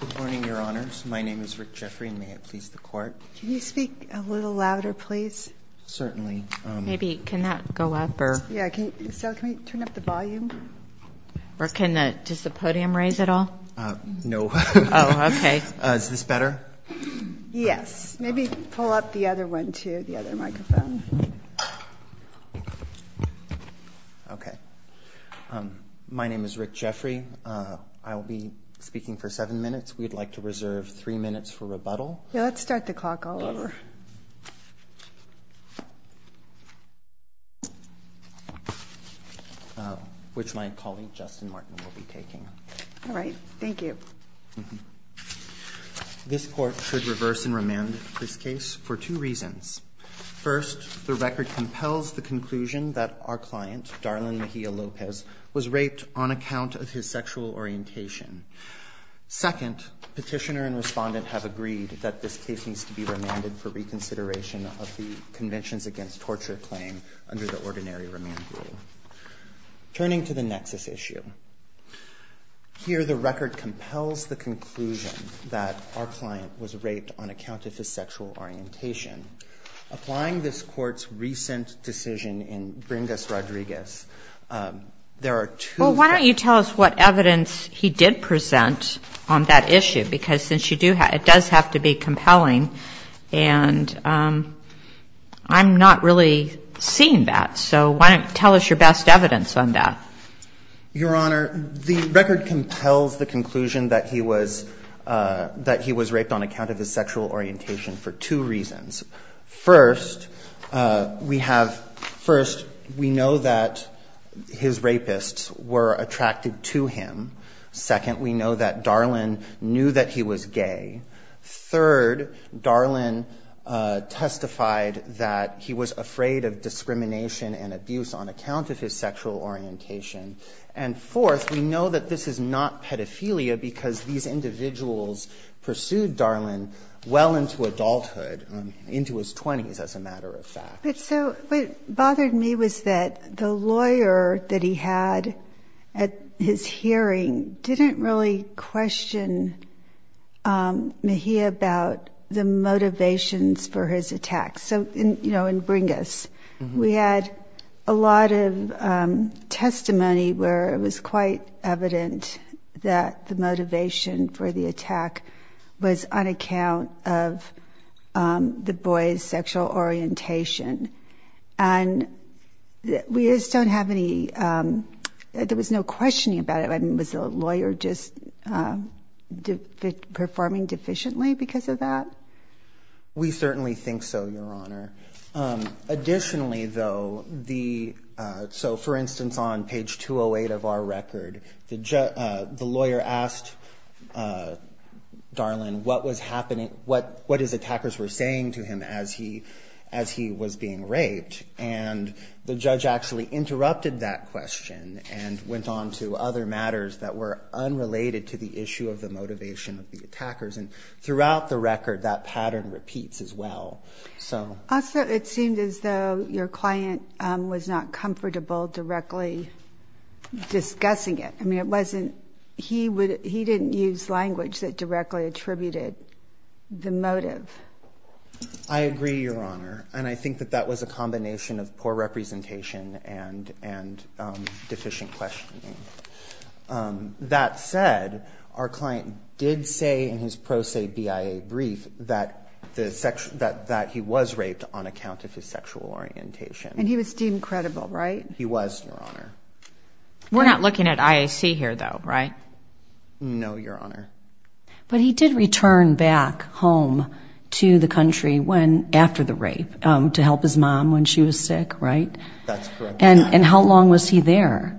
Good morning, Your Honors. My name is Rick Jeffery, and may I please the Court? Can you speak a little louder, please? Certainly. Maybe, can that go up? Can you turn up the volume? Does the podium raise at all? No. Oh, okay. Is this better? Yes. Maybe pull up the other one, too, the other microphone. Okay. My name is Rick Jeffery. I will be speaking for seven minutes. We'd like to reserve three minutes for rebuttal. Let's start the clock all over. Which my colleague, Justin Martin, will be taking. All right. Thank you. This Court should reverse and remand this case for two reasons. First, the record compels the conclusion that our client, Darlin Mejia Lopez, was raped on account of his sexual orientation. Second, Petitioner and Respondent have agreed that this case needs to be remanded for reconsideration of the Conventions Against Torture claim under the Ordinary Remand Rule. Turning to the nexus issue, here the record compels the conclusion that our client was raped on account of his sexual orientation. Applying this Court's recent decision in Bringus-Rodriguez, there are two- Well, why don't you tell us what evidence he did present on that issue? It does have to be compelling, and I'm not really seeing that. So why don't you tell us your best evidence on that? Your Honor, the record compels the conclusion that he was raped on account of his sexual orientation for two reasons. First, we know that his rapists were attracted to him. Second, we know that Darlin knew that he was gay. Third, Darlin testified that he was afraid of discrimination and abuse on account of his sexual orientation. And fourth, we know that this is not pedophilia because these individuals pursued Darlin well into adulthood, into his 20s, as a matter of fact. But so what bothered me was that the lawyer that he had at his hearing didn't really question Mejia about the motivations for his attack. So, you know, in Bringus, we had a lot of testimony where it was quite evident that the motivation for the attack was on account of the boy's sexual orientation. And we just don't have any – there was no questioning about it. I mean, was the lawyer just performing deficiently because of that? We certainly think so, Your Honor. Additionally, though, the – so for instance, on page 208 of our record, the lawyer asked Darlin what was happening – what his attackers were saying to him as he was being raped. And the judge actually interrupted that question and went on to other matters that were unrelated to the issue of the motivation of the attackers. And throughout the record, that pattern repeats as well. Also, it seemed as though your client was not comfortable directly discussing it. I mean, it wasn't – he didn't use language that directly attributed the motive. I agree, Your Honor. And I think that that was a combination of poor representation and deficient questioning. That said, our client did say in his pro se BIA brief that the – that he was raped on account of his sexual orientation. And he was deemed credible, right? He was, Your Honor. We're not looking at IAC here, though, right? No, Your Honor. But he did return back home to the country when – after the rape to help his mom when she was sick, right? That's correct. And how long was he there?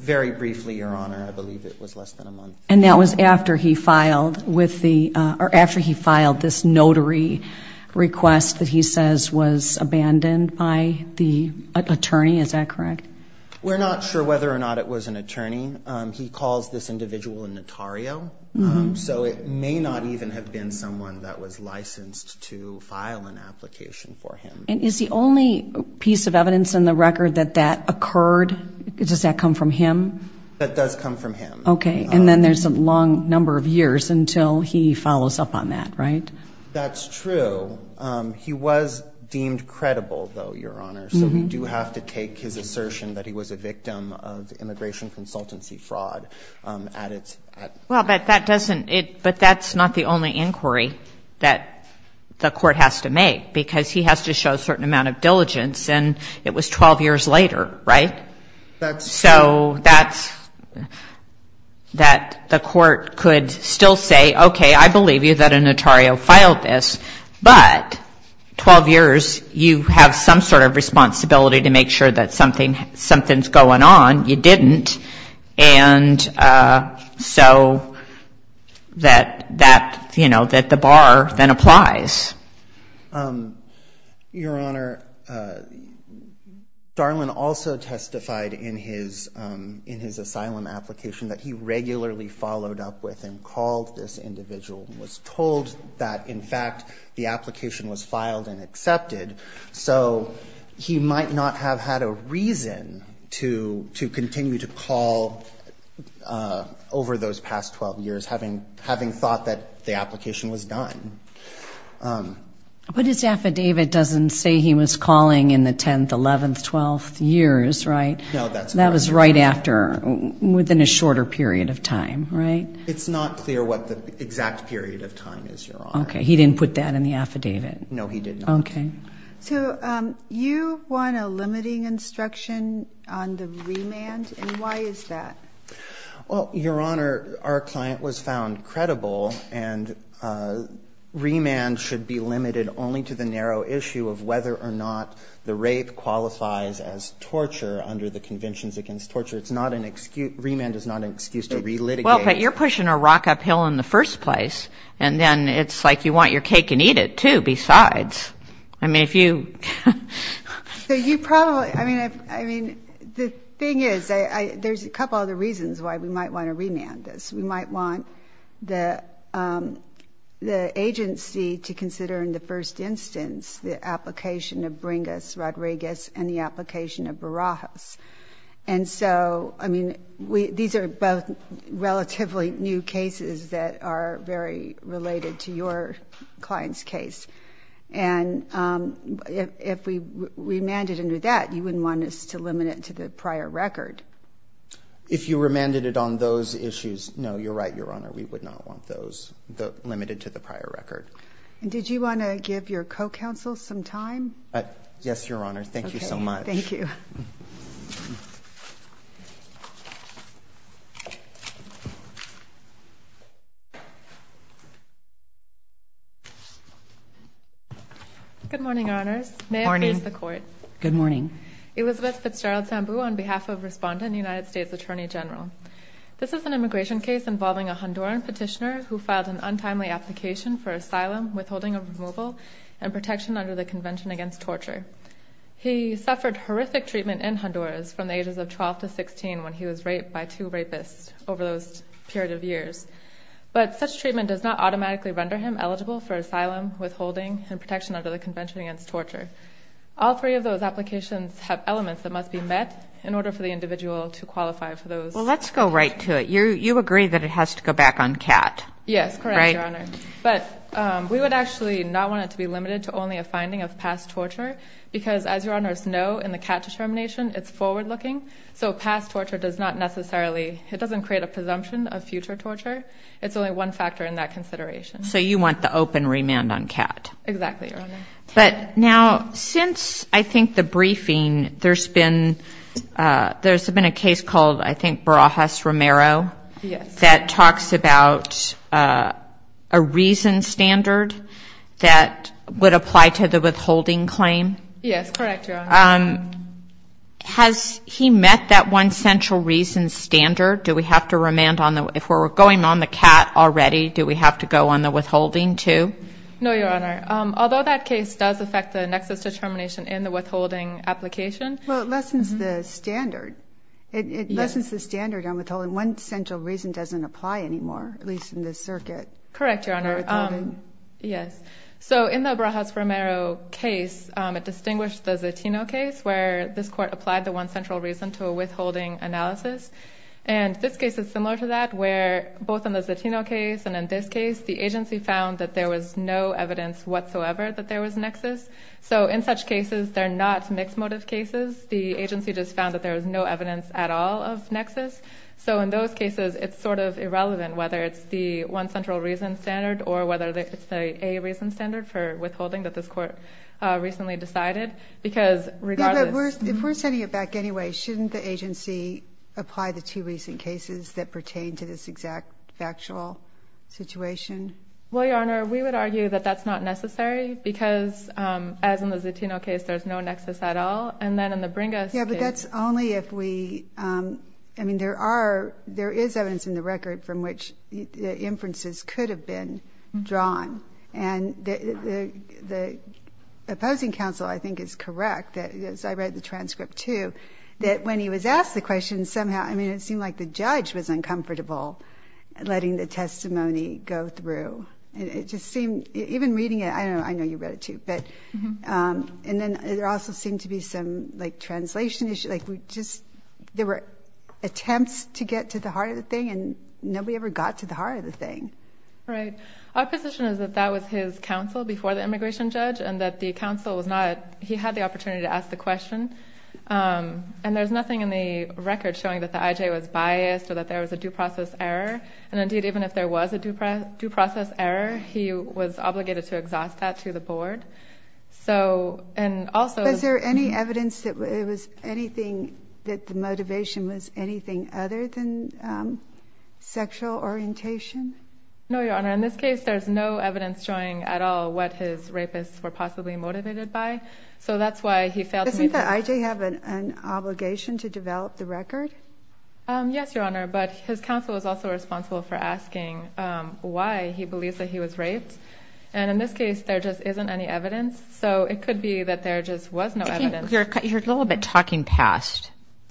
Very briefly, Your Honor. I believe it was less than a month. And that was after he filed with the – or after he filed this notary request that he says was abandoned by the attorney. Is that correct? We're not sure whether or not it was an attorney. He calls this individual a notario. So it may not even have been someone that was licensed to file an application for him. And is the only piece of evidence in the record that that occurred? Does that come from him? That does come from him. Okay. And then there's a long number of years until he follows up on that, right? That's true. He was deemed credible, though, Your Honor. So we do have to take his assertion that he was a victim of immigration consultancy fraud at its – Well, but that doesn't – but that's not the only inquiry that the court has to make, because he has to show a certain amount of diligence. And it was 12 years later, right? So that's – that the court could still say, okay, I believe you that a notario filed this, but 12 years you have some sort of responsibility to make sure that something's going on. You didn't. And so that, you know, that the bar then applies. Your Honor, Darlin also testified in his asylum application that he regularly followed up with and called this individual and was told that, in fact, the application was filed and accepted. So he might not have had a reason to continue to call over those past 12 years, having thought that the application was done. But his affidavit doesn't say he was calling in the 10th, 11th, 12th years, right? No, that's correct. That was right after – within a shorter period of time, right? It's not clear what the exact period of time is, Your Honor. Okay. He didn't put that in the affidavit? No, he did not. Okay. So you want a limiting instruction on the remand, and why is that? Well, Your Honor, our client was found credible, and remand should be limited only to the narrow issue of whether or not the rape qualifies as torture under the Conventions Against Torture. It's not an excuse – remand is not an excuse to relitigate. Well, but you're pushing a rock uphill in the first place, and then it's like you want your cake and eat it, too, besides. I mean, if you – So you probably – I mean, the thing is, there's a couple other reasons why we might want to remand this. We might want the agency to consider in the first instance the application of Bringus, Rodriguez, and the application of Barajas. And so, I mean, these are both relatively new cases that are very related to your client's case. And if we remanded under that, you wouldn't want us to limit it to the prior record. If you remanded it on those issues, no, you're right, Your Honor, we would not want those limited to the prior record. And did you want to give your co-counsel some time? Yes, Your Honor. Thank you so much. Okay. Thank you. Good morning, Your Honors. Good morning. May it please the Court. Good morning. Elizabeth Fitzgerald Sambu on behalf of Respondent, United States Attorney General. This is an immigration case involving a Honduran petitioner who filed an untimely application for asylum, withholding of removal, and protection under the Convention Against Torture. He suffered horrific treatment in Honduras from the ages of 12 to 16 when he was raped by two rapists over those period of years. But such treatment does not automatically render him eligible for asylum, withholding, and protection under the Convention Against Torture. All three of those applications have elements that must be met in order for the individual to qualify for those. Well, let's go right to it. You agree that it has to go back on CAT, right? Yes, correct, Your Honor. But we would actually not want it to be limited to only a finding of past torture because, as Your Honors know, in the CAT determination, it's forward-looking. So past torture does not necessarily, it doesn't create a presumption of future torture. It's only one factor in that consideration. So you want the open remand on CAT. Exactly, Your Honor. But now, since I think the briefing, there's been a case called, I think, Barajas-Romero. Yes. That talks about a reason standard that would apply to the withholding claim. Yes, correct, Your Honor. Has he met that one central reason standard? Do we have to remand on the, if we're going on the CAT already, do we have to go on the withholding too? No, Your Honor. Although that case does affect the nexus determination in the withholding application. Well, it lessens the standard. It lessens the standard on withholding. But the one central reason doesn't apply anymore, at least in this circuit. Correct, Your Honor. Withholding. Yes. So in the Barajas-Romero case, it distinguished the Zatino case, where this court applied the one central reason to a withholding analysis. And this case is similar to that, where both in the Zatino case and in this case, the agency found that there was no evidence whatsoever that there was nexus. So in such cases, they're not mixed motive cases. The agency just found that there was no evidence at all of nexus. So in those cases, it's sort of irrelevant whether it's the one central reason standard or whether it's the A reason standard for withholding that this court recently decided. Because regardless. Yeah, but if we're sending it back anyway, shouldn't the agency apply the two recent cases that pertain to this exact factual situation? Well, Your Honor, we would argue that that's not necessary because as in the Zatino case, there's no nexus at all. And then in the Bringus case. That's only if we, I mean, there are, there is evidence in the record from which the inferences could have been drawn. And the opposing counsel, I think, is correct, as I read the transcript too, that when he was asked the question, somehow, I mean, it seemed like the judge was uncomfortable letting the testimony go through. It just seemed, even reading it, I know you read it too, and then there also seemed to be some translation issues. There were attempts to get to the heart of the thing, and nobody ever got to the heart of the thing. Right. Our position is that that was his counsel before the immigration judge and that the counsel was not, he had the opportunity to ask the question. And there's nothing in the record showing that the IJ was biased or that there was a due process error. And indeed, even if there was a due process error, he was obligated to exhaust that to the board. So, and also— Was there any evidence that it was anything, that the motivation was anything other than sexual orientation? No, Your Honor. In this case, there's no evidence showing at all what his rapists were possibly motivated by. So that's why he failed to meet the— Doesn't the IJ have an obligation to develop the record? Yes, Your Honor. But his counsel is also responsible for asking why he believes that he was raped. And in this case, there just isn't any evidence. So it could be that there just was no evidence. You're a little bit talking past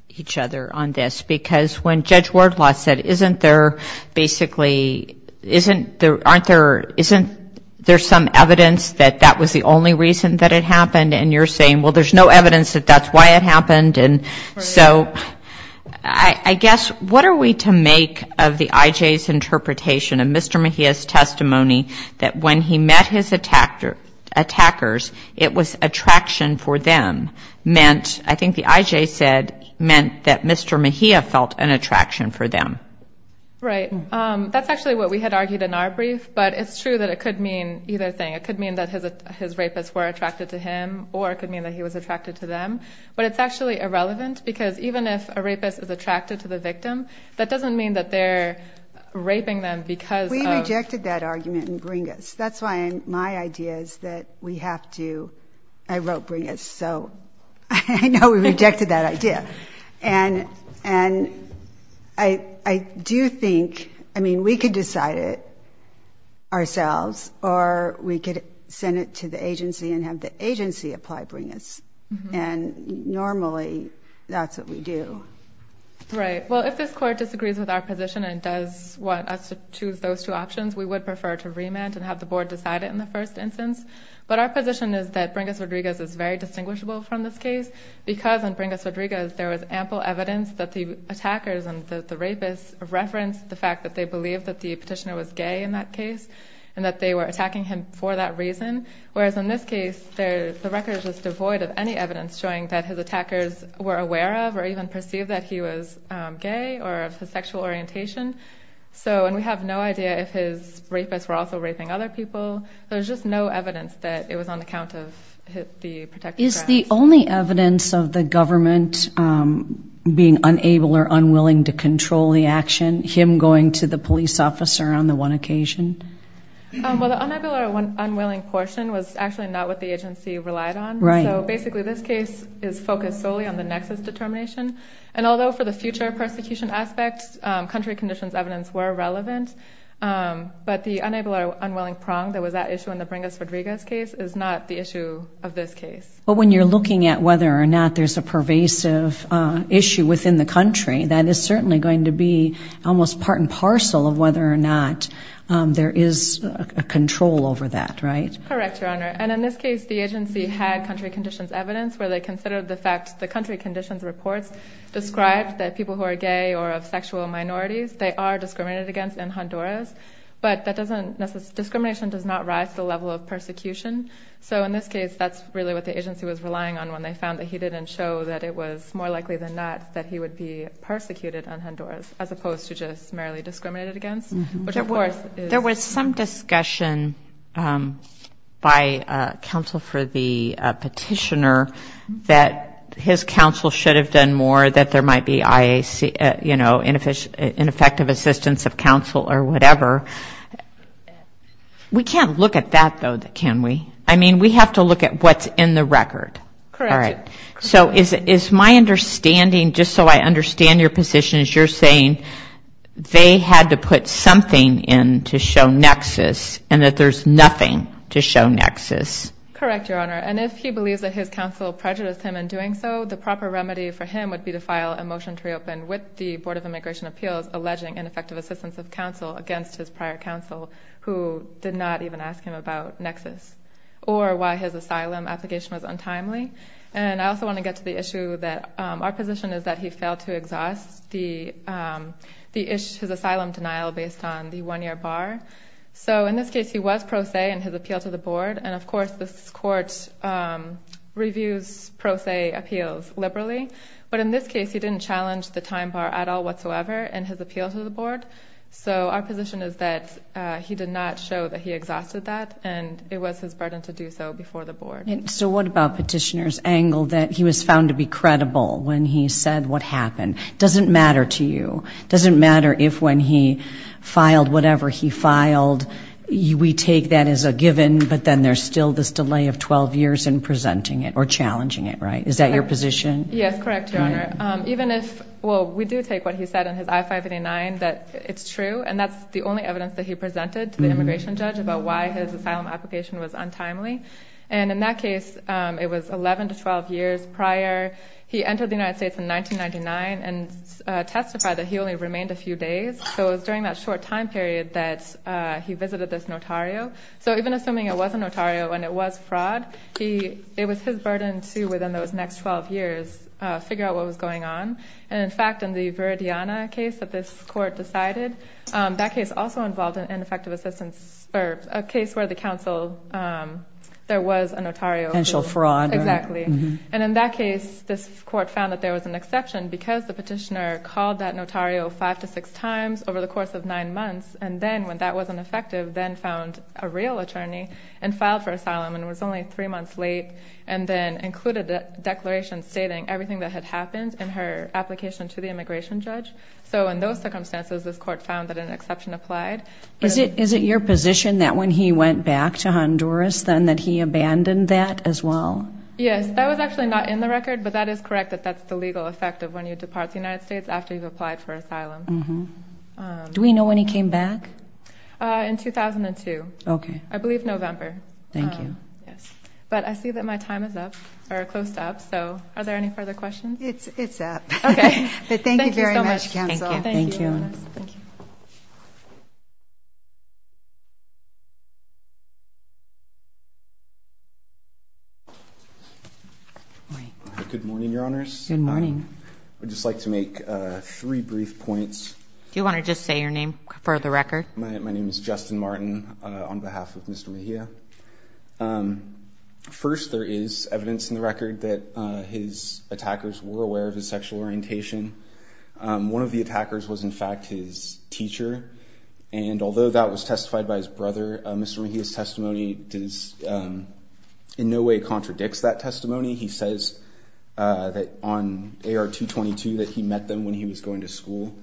each other on this. Because when Judge Wardlaw said, isn't there basically, isn't there, aren't there, isn't there some evidence that that was the only reason that it happened? And you're saying, well, there's no evidence that that's why it happened. And so I guess what are we to make of the IJ's interpretation of Mr. Mejia's testimony that when he met his attackers, it was attraction for them, meant, I think the IJ said, meant that Mr. Mejia felt an attraction for them. Right. That's actually what we had argued in our brief. But it's true that it could mean either thing. It could mean that his rapists were attracted to him, or it could mean that he was attracted to them. But it's actually irrelevant. Because even if a rapist is attracted to the victim, that doesn't mean that they're raping them because of. We rejected that argument in Bringus. That's why my idea is that we have to, I wrote Bringus. So I know we rejected that idea. And I do think, I mean, we could decide it ourselves, or we could send it to the agency and have the agency apply Bringus. And normally that's what we do. Right. Well, if this court disagrees with our position and does want us to choose those two options, we would prefer to remand and have the board decide it in the first instance. But our position is that Bringus Rodriguez is very distinguishable from this case because on Bringus Rodriguez there was ample evidence that the attackers and the rapists referenced the fact that they believed that the petitioner was gay in that case and that they were attacking him for that reason. Whereas in this case the record is just devoid of any evidence showing that his attackers were aware of or even perceived that he was gay or of his sexual orientation. And we have no idea if his rapists were also raping other people. There's just no evidence that it was on account of the protected grounds. Is the only evidence of the government being unable or unwilling to control the action him going to the police officer on the one occasion? Well, the unable or unwilling portion was actually not what the agency relied on. Right. So basically this case is focused solely on the nexus determination. And although for the future persecution aspects, country conditions evidence were relevant, but the unable or unwilling prong that was at issue in the Bringus Rodriguez case is not the issue of this case. But when you're looking at whether or not there's a pervasive issue within the country, that is certainly going to be almost part and parcel of whether or not there is a control over that, right? Correct, Your Honor. And in this case the agency had country conditions evidence where they considered the fact the country conditions reports described that people who are gay or of sexual minorities, they are discriminated against in Honduras. But that doesn't, discrimination does not rise to the level of persecution. So in this case that's really what the agency was relying on when they found that he didn't show that it was more likely than not that he would be persecuted in Honduras, as opposed to just merely discriminated against. There was some discussion by counsel for the petitioner that his counsel should have done more, that there might be IAC, you know, ineffective assistance of counsel or whatever. We can't look at that, though, can we? I mean, we have to look at what's in the record. So is my understanding, just so I understand your position, is you're saying they had to put something in to show nexus and that there's nothing to show nexus? Correct, Your Honor, and if he believes that his counsel prejudiced him in doing so, the proper remedy for him would be to file a motion to reopen with the Board of Immigration Appeals alleging ineffective assistance of counsel against his prior counsel, who did not even ask him about nexus, or why his asylum application was untimely. And I also want to get to the issue that our position is that he failed to exhaust his asylum denial based on the one-year bar. So in this case he was pro se in his appeal to the board, and of course this court reviews pro se appeals liberally, but in this case he didn't challenge the time bar at all whatsoever in his appeal to the board. So our position is that he did not show that he exhausted that, and it was his burden to do so before the board. And so what about petitioner's angle that he was found to be credible when he said what happened? Doesn't matter to you. Doesn't matter if when he filed whatever he filed we take that as a given, but then there's still this delay of 12 years in presenting it or challenging it, right? Is that your position? It's true, and that's the only evidence that he presented to the immigration judge about why his asylum application was untimely. And in that case it was 11 to 12 years prior. He entered the United States in 1999 and testified that he only remained a few days. So it was during that short time period that he visited this notario. So even assuming it was a notario and it was fraud, it was his burden to, within those next 12 years, figure out what was going on. And in fact, in the Viridiana case that this court decided, that case also involved an ineffective assistance or a case where the counsel, there was a notario. Potential fraud. Exactly. And in that case, this court found that there was an exception because the petitioner called that notario five to six times over the course of nine months, and then when that wasn't effective, then found a real attorney and filed for asylum. And it was only three months late, and then included a declaration stating everything that had happened in her application to the immigration judge. So in those circumstances, this court found that an exception applied. Is it your position that when he went back to Honduras then that he abandoned that as well? Yes, that was actually not in the record, but that is correct, that that's the legal effect of when you depart the United States after you've applied for asylum. Do we know when he came back? Yes, but I see that my time is up, or close to up, so are there any further questions? It's up, but thank you very much, counsel. Good morning, Your Honors. Good morning. I would just like to make three brief points. Do you want to just say your name for the record? My name is Justin Martin on behalf of Mr. Mejia. First, there is evidence in the record that his attackers were aware of his sexual orientation. One of the attackers was, in fact, his teacher, and although that was testified by his brother, Mr. Mejia's testimony does in no way contradicts that testimony. He says that on AR-222 that he met them when he was going to school,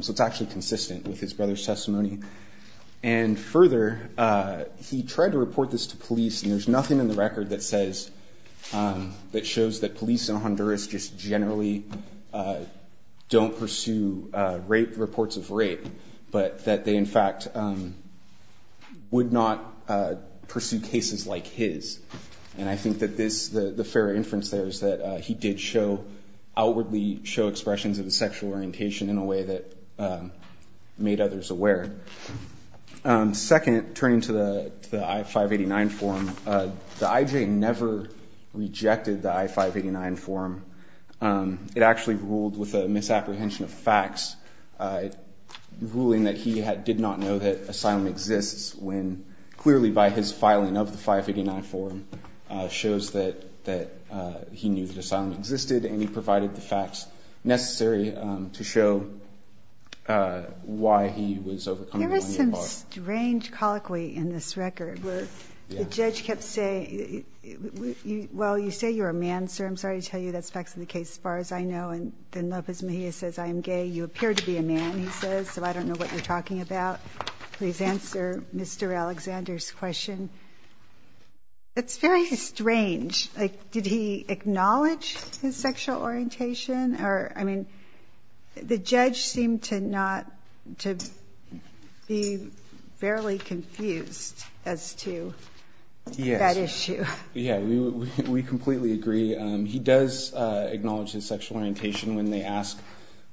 so it's actually consistent with his brother's testimony. And further, he tried to report this to police, and there's nothing in the record that shows that police in Honduras just generally don't pursue reports of rape, but that they, in fact, would not pursue cases like his. And I think that the fair inference there is that he did outwardly show expressions of his sexual orientation in a way that made others aware. Second, turning to the I-589 form, the IJ never rejected the I-589 form. It actually ruled with a misapprehension of facts, ruling that he did not know that asylum exists when, clearly by his filing of the I-589 form, shows that he knew that asylum existed, and he provided the facts necessary to show why he was overcoming the money at bar. Here is some strange colloquy in this record, where the judge kept saying, well, you say you're a man, sir. I'm sorry to tell you that's facts of the case as far as I know, and then Lopez Mejia says, I am gay. You appear to be a man, he says, so I don't know what you're talking about. Please answer Mr. Alexander's question. It's very strange. Like, did he acknowledge his sexual orientation, or, I mean, the judge seemed to not, to be fairly confused as to that issue. Yes. Yeah, we completely agree. He does acknowledge his sexual orientation when they ask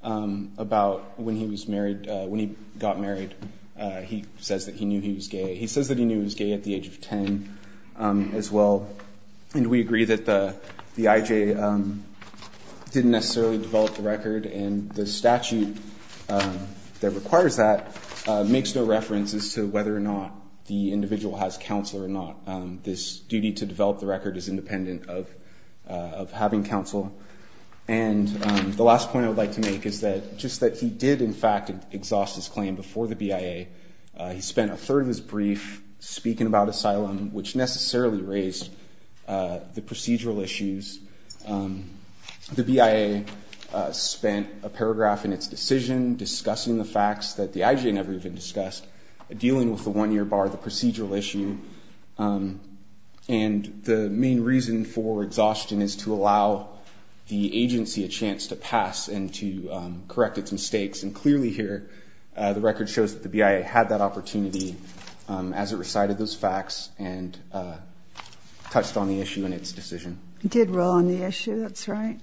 about when he was married, when he got married, he says that he knew he was gay. He says that he knew he was gay at the age of 10 as well, and we agree that the IJ didn't necessarily develop the record, and the statute that requires that makes no reference as to whether or not the individual has counsel or not. This duty to develop the record is independent of having counsel. And the last point I would like to make is that just that he did, in fact, exhaust his claim before the BIA. He spent a third of his brief speaking about asylum, which necessarily raised the procedural issues. The BIA spent a paragraph in its decision discussing the facts that the IJ never even discussed, dealing with the one-year bar, the procedural issue, and the main reason for exhaustion is to allow the agency a chance to pass and to correct its mistakes. And clearly here, the record shows that the BIA had that opportunity as it recited those facts and touched on the issue in its decision. It did roll on the issue, that's right.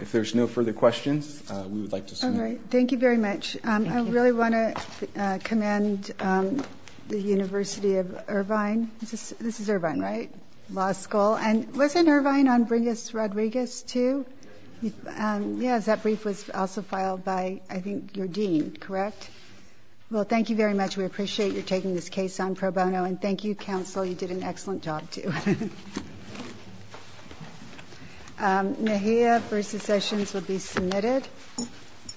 If there's no further questions, we would like to... All right. Thank you very much. I really want to commend the University of Irvine. This is Irvine, right? Law School. And wasn't Irvine on Bringus-Rodriguez too? Yes, that brief was also filed by, I think, your dean, correct? Well, thank you very much. We appreciate your taking this case on pro bono, and thank you, counsel. You did an excellent job too. Thank you.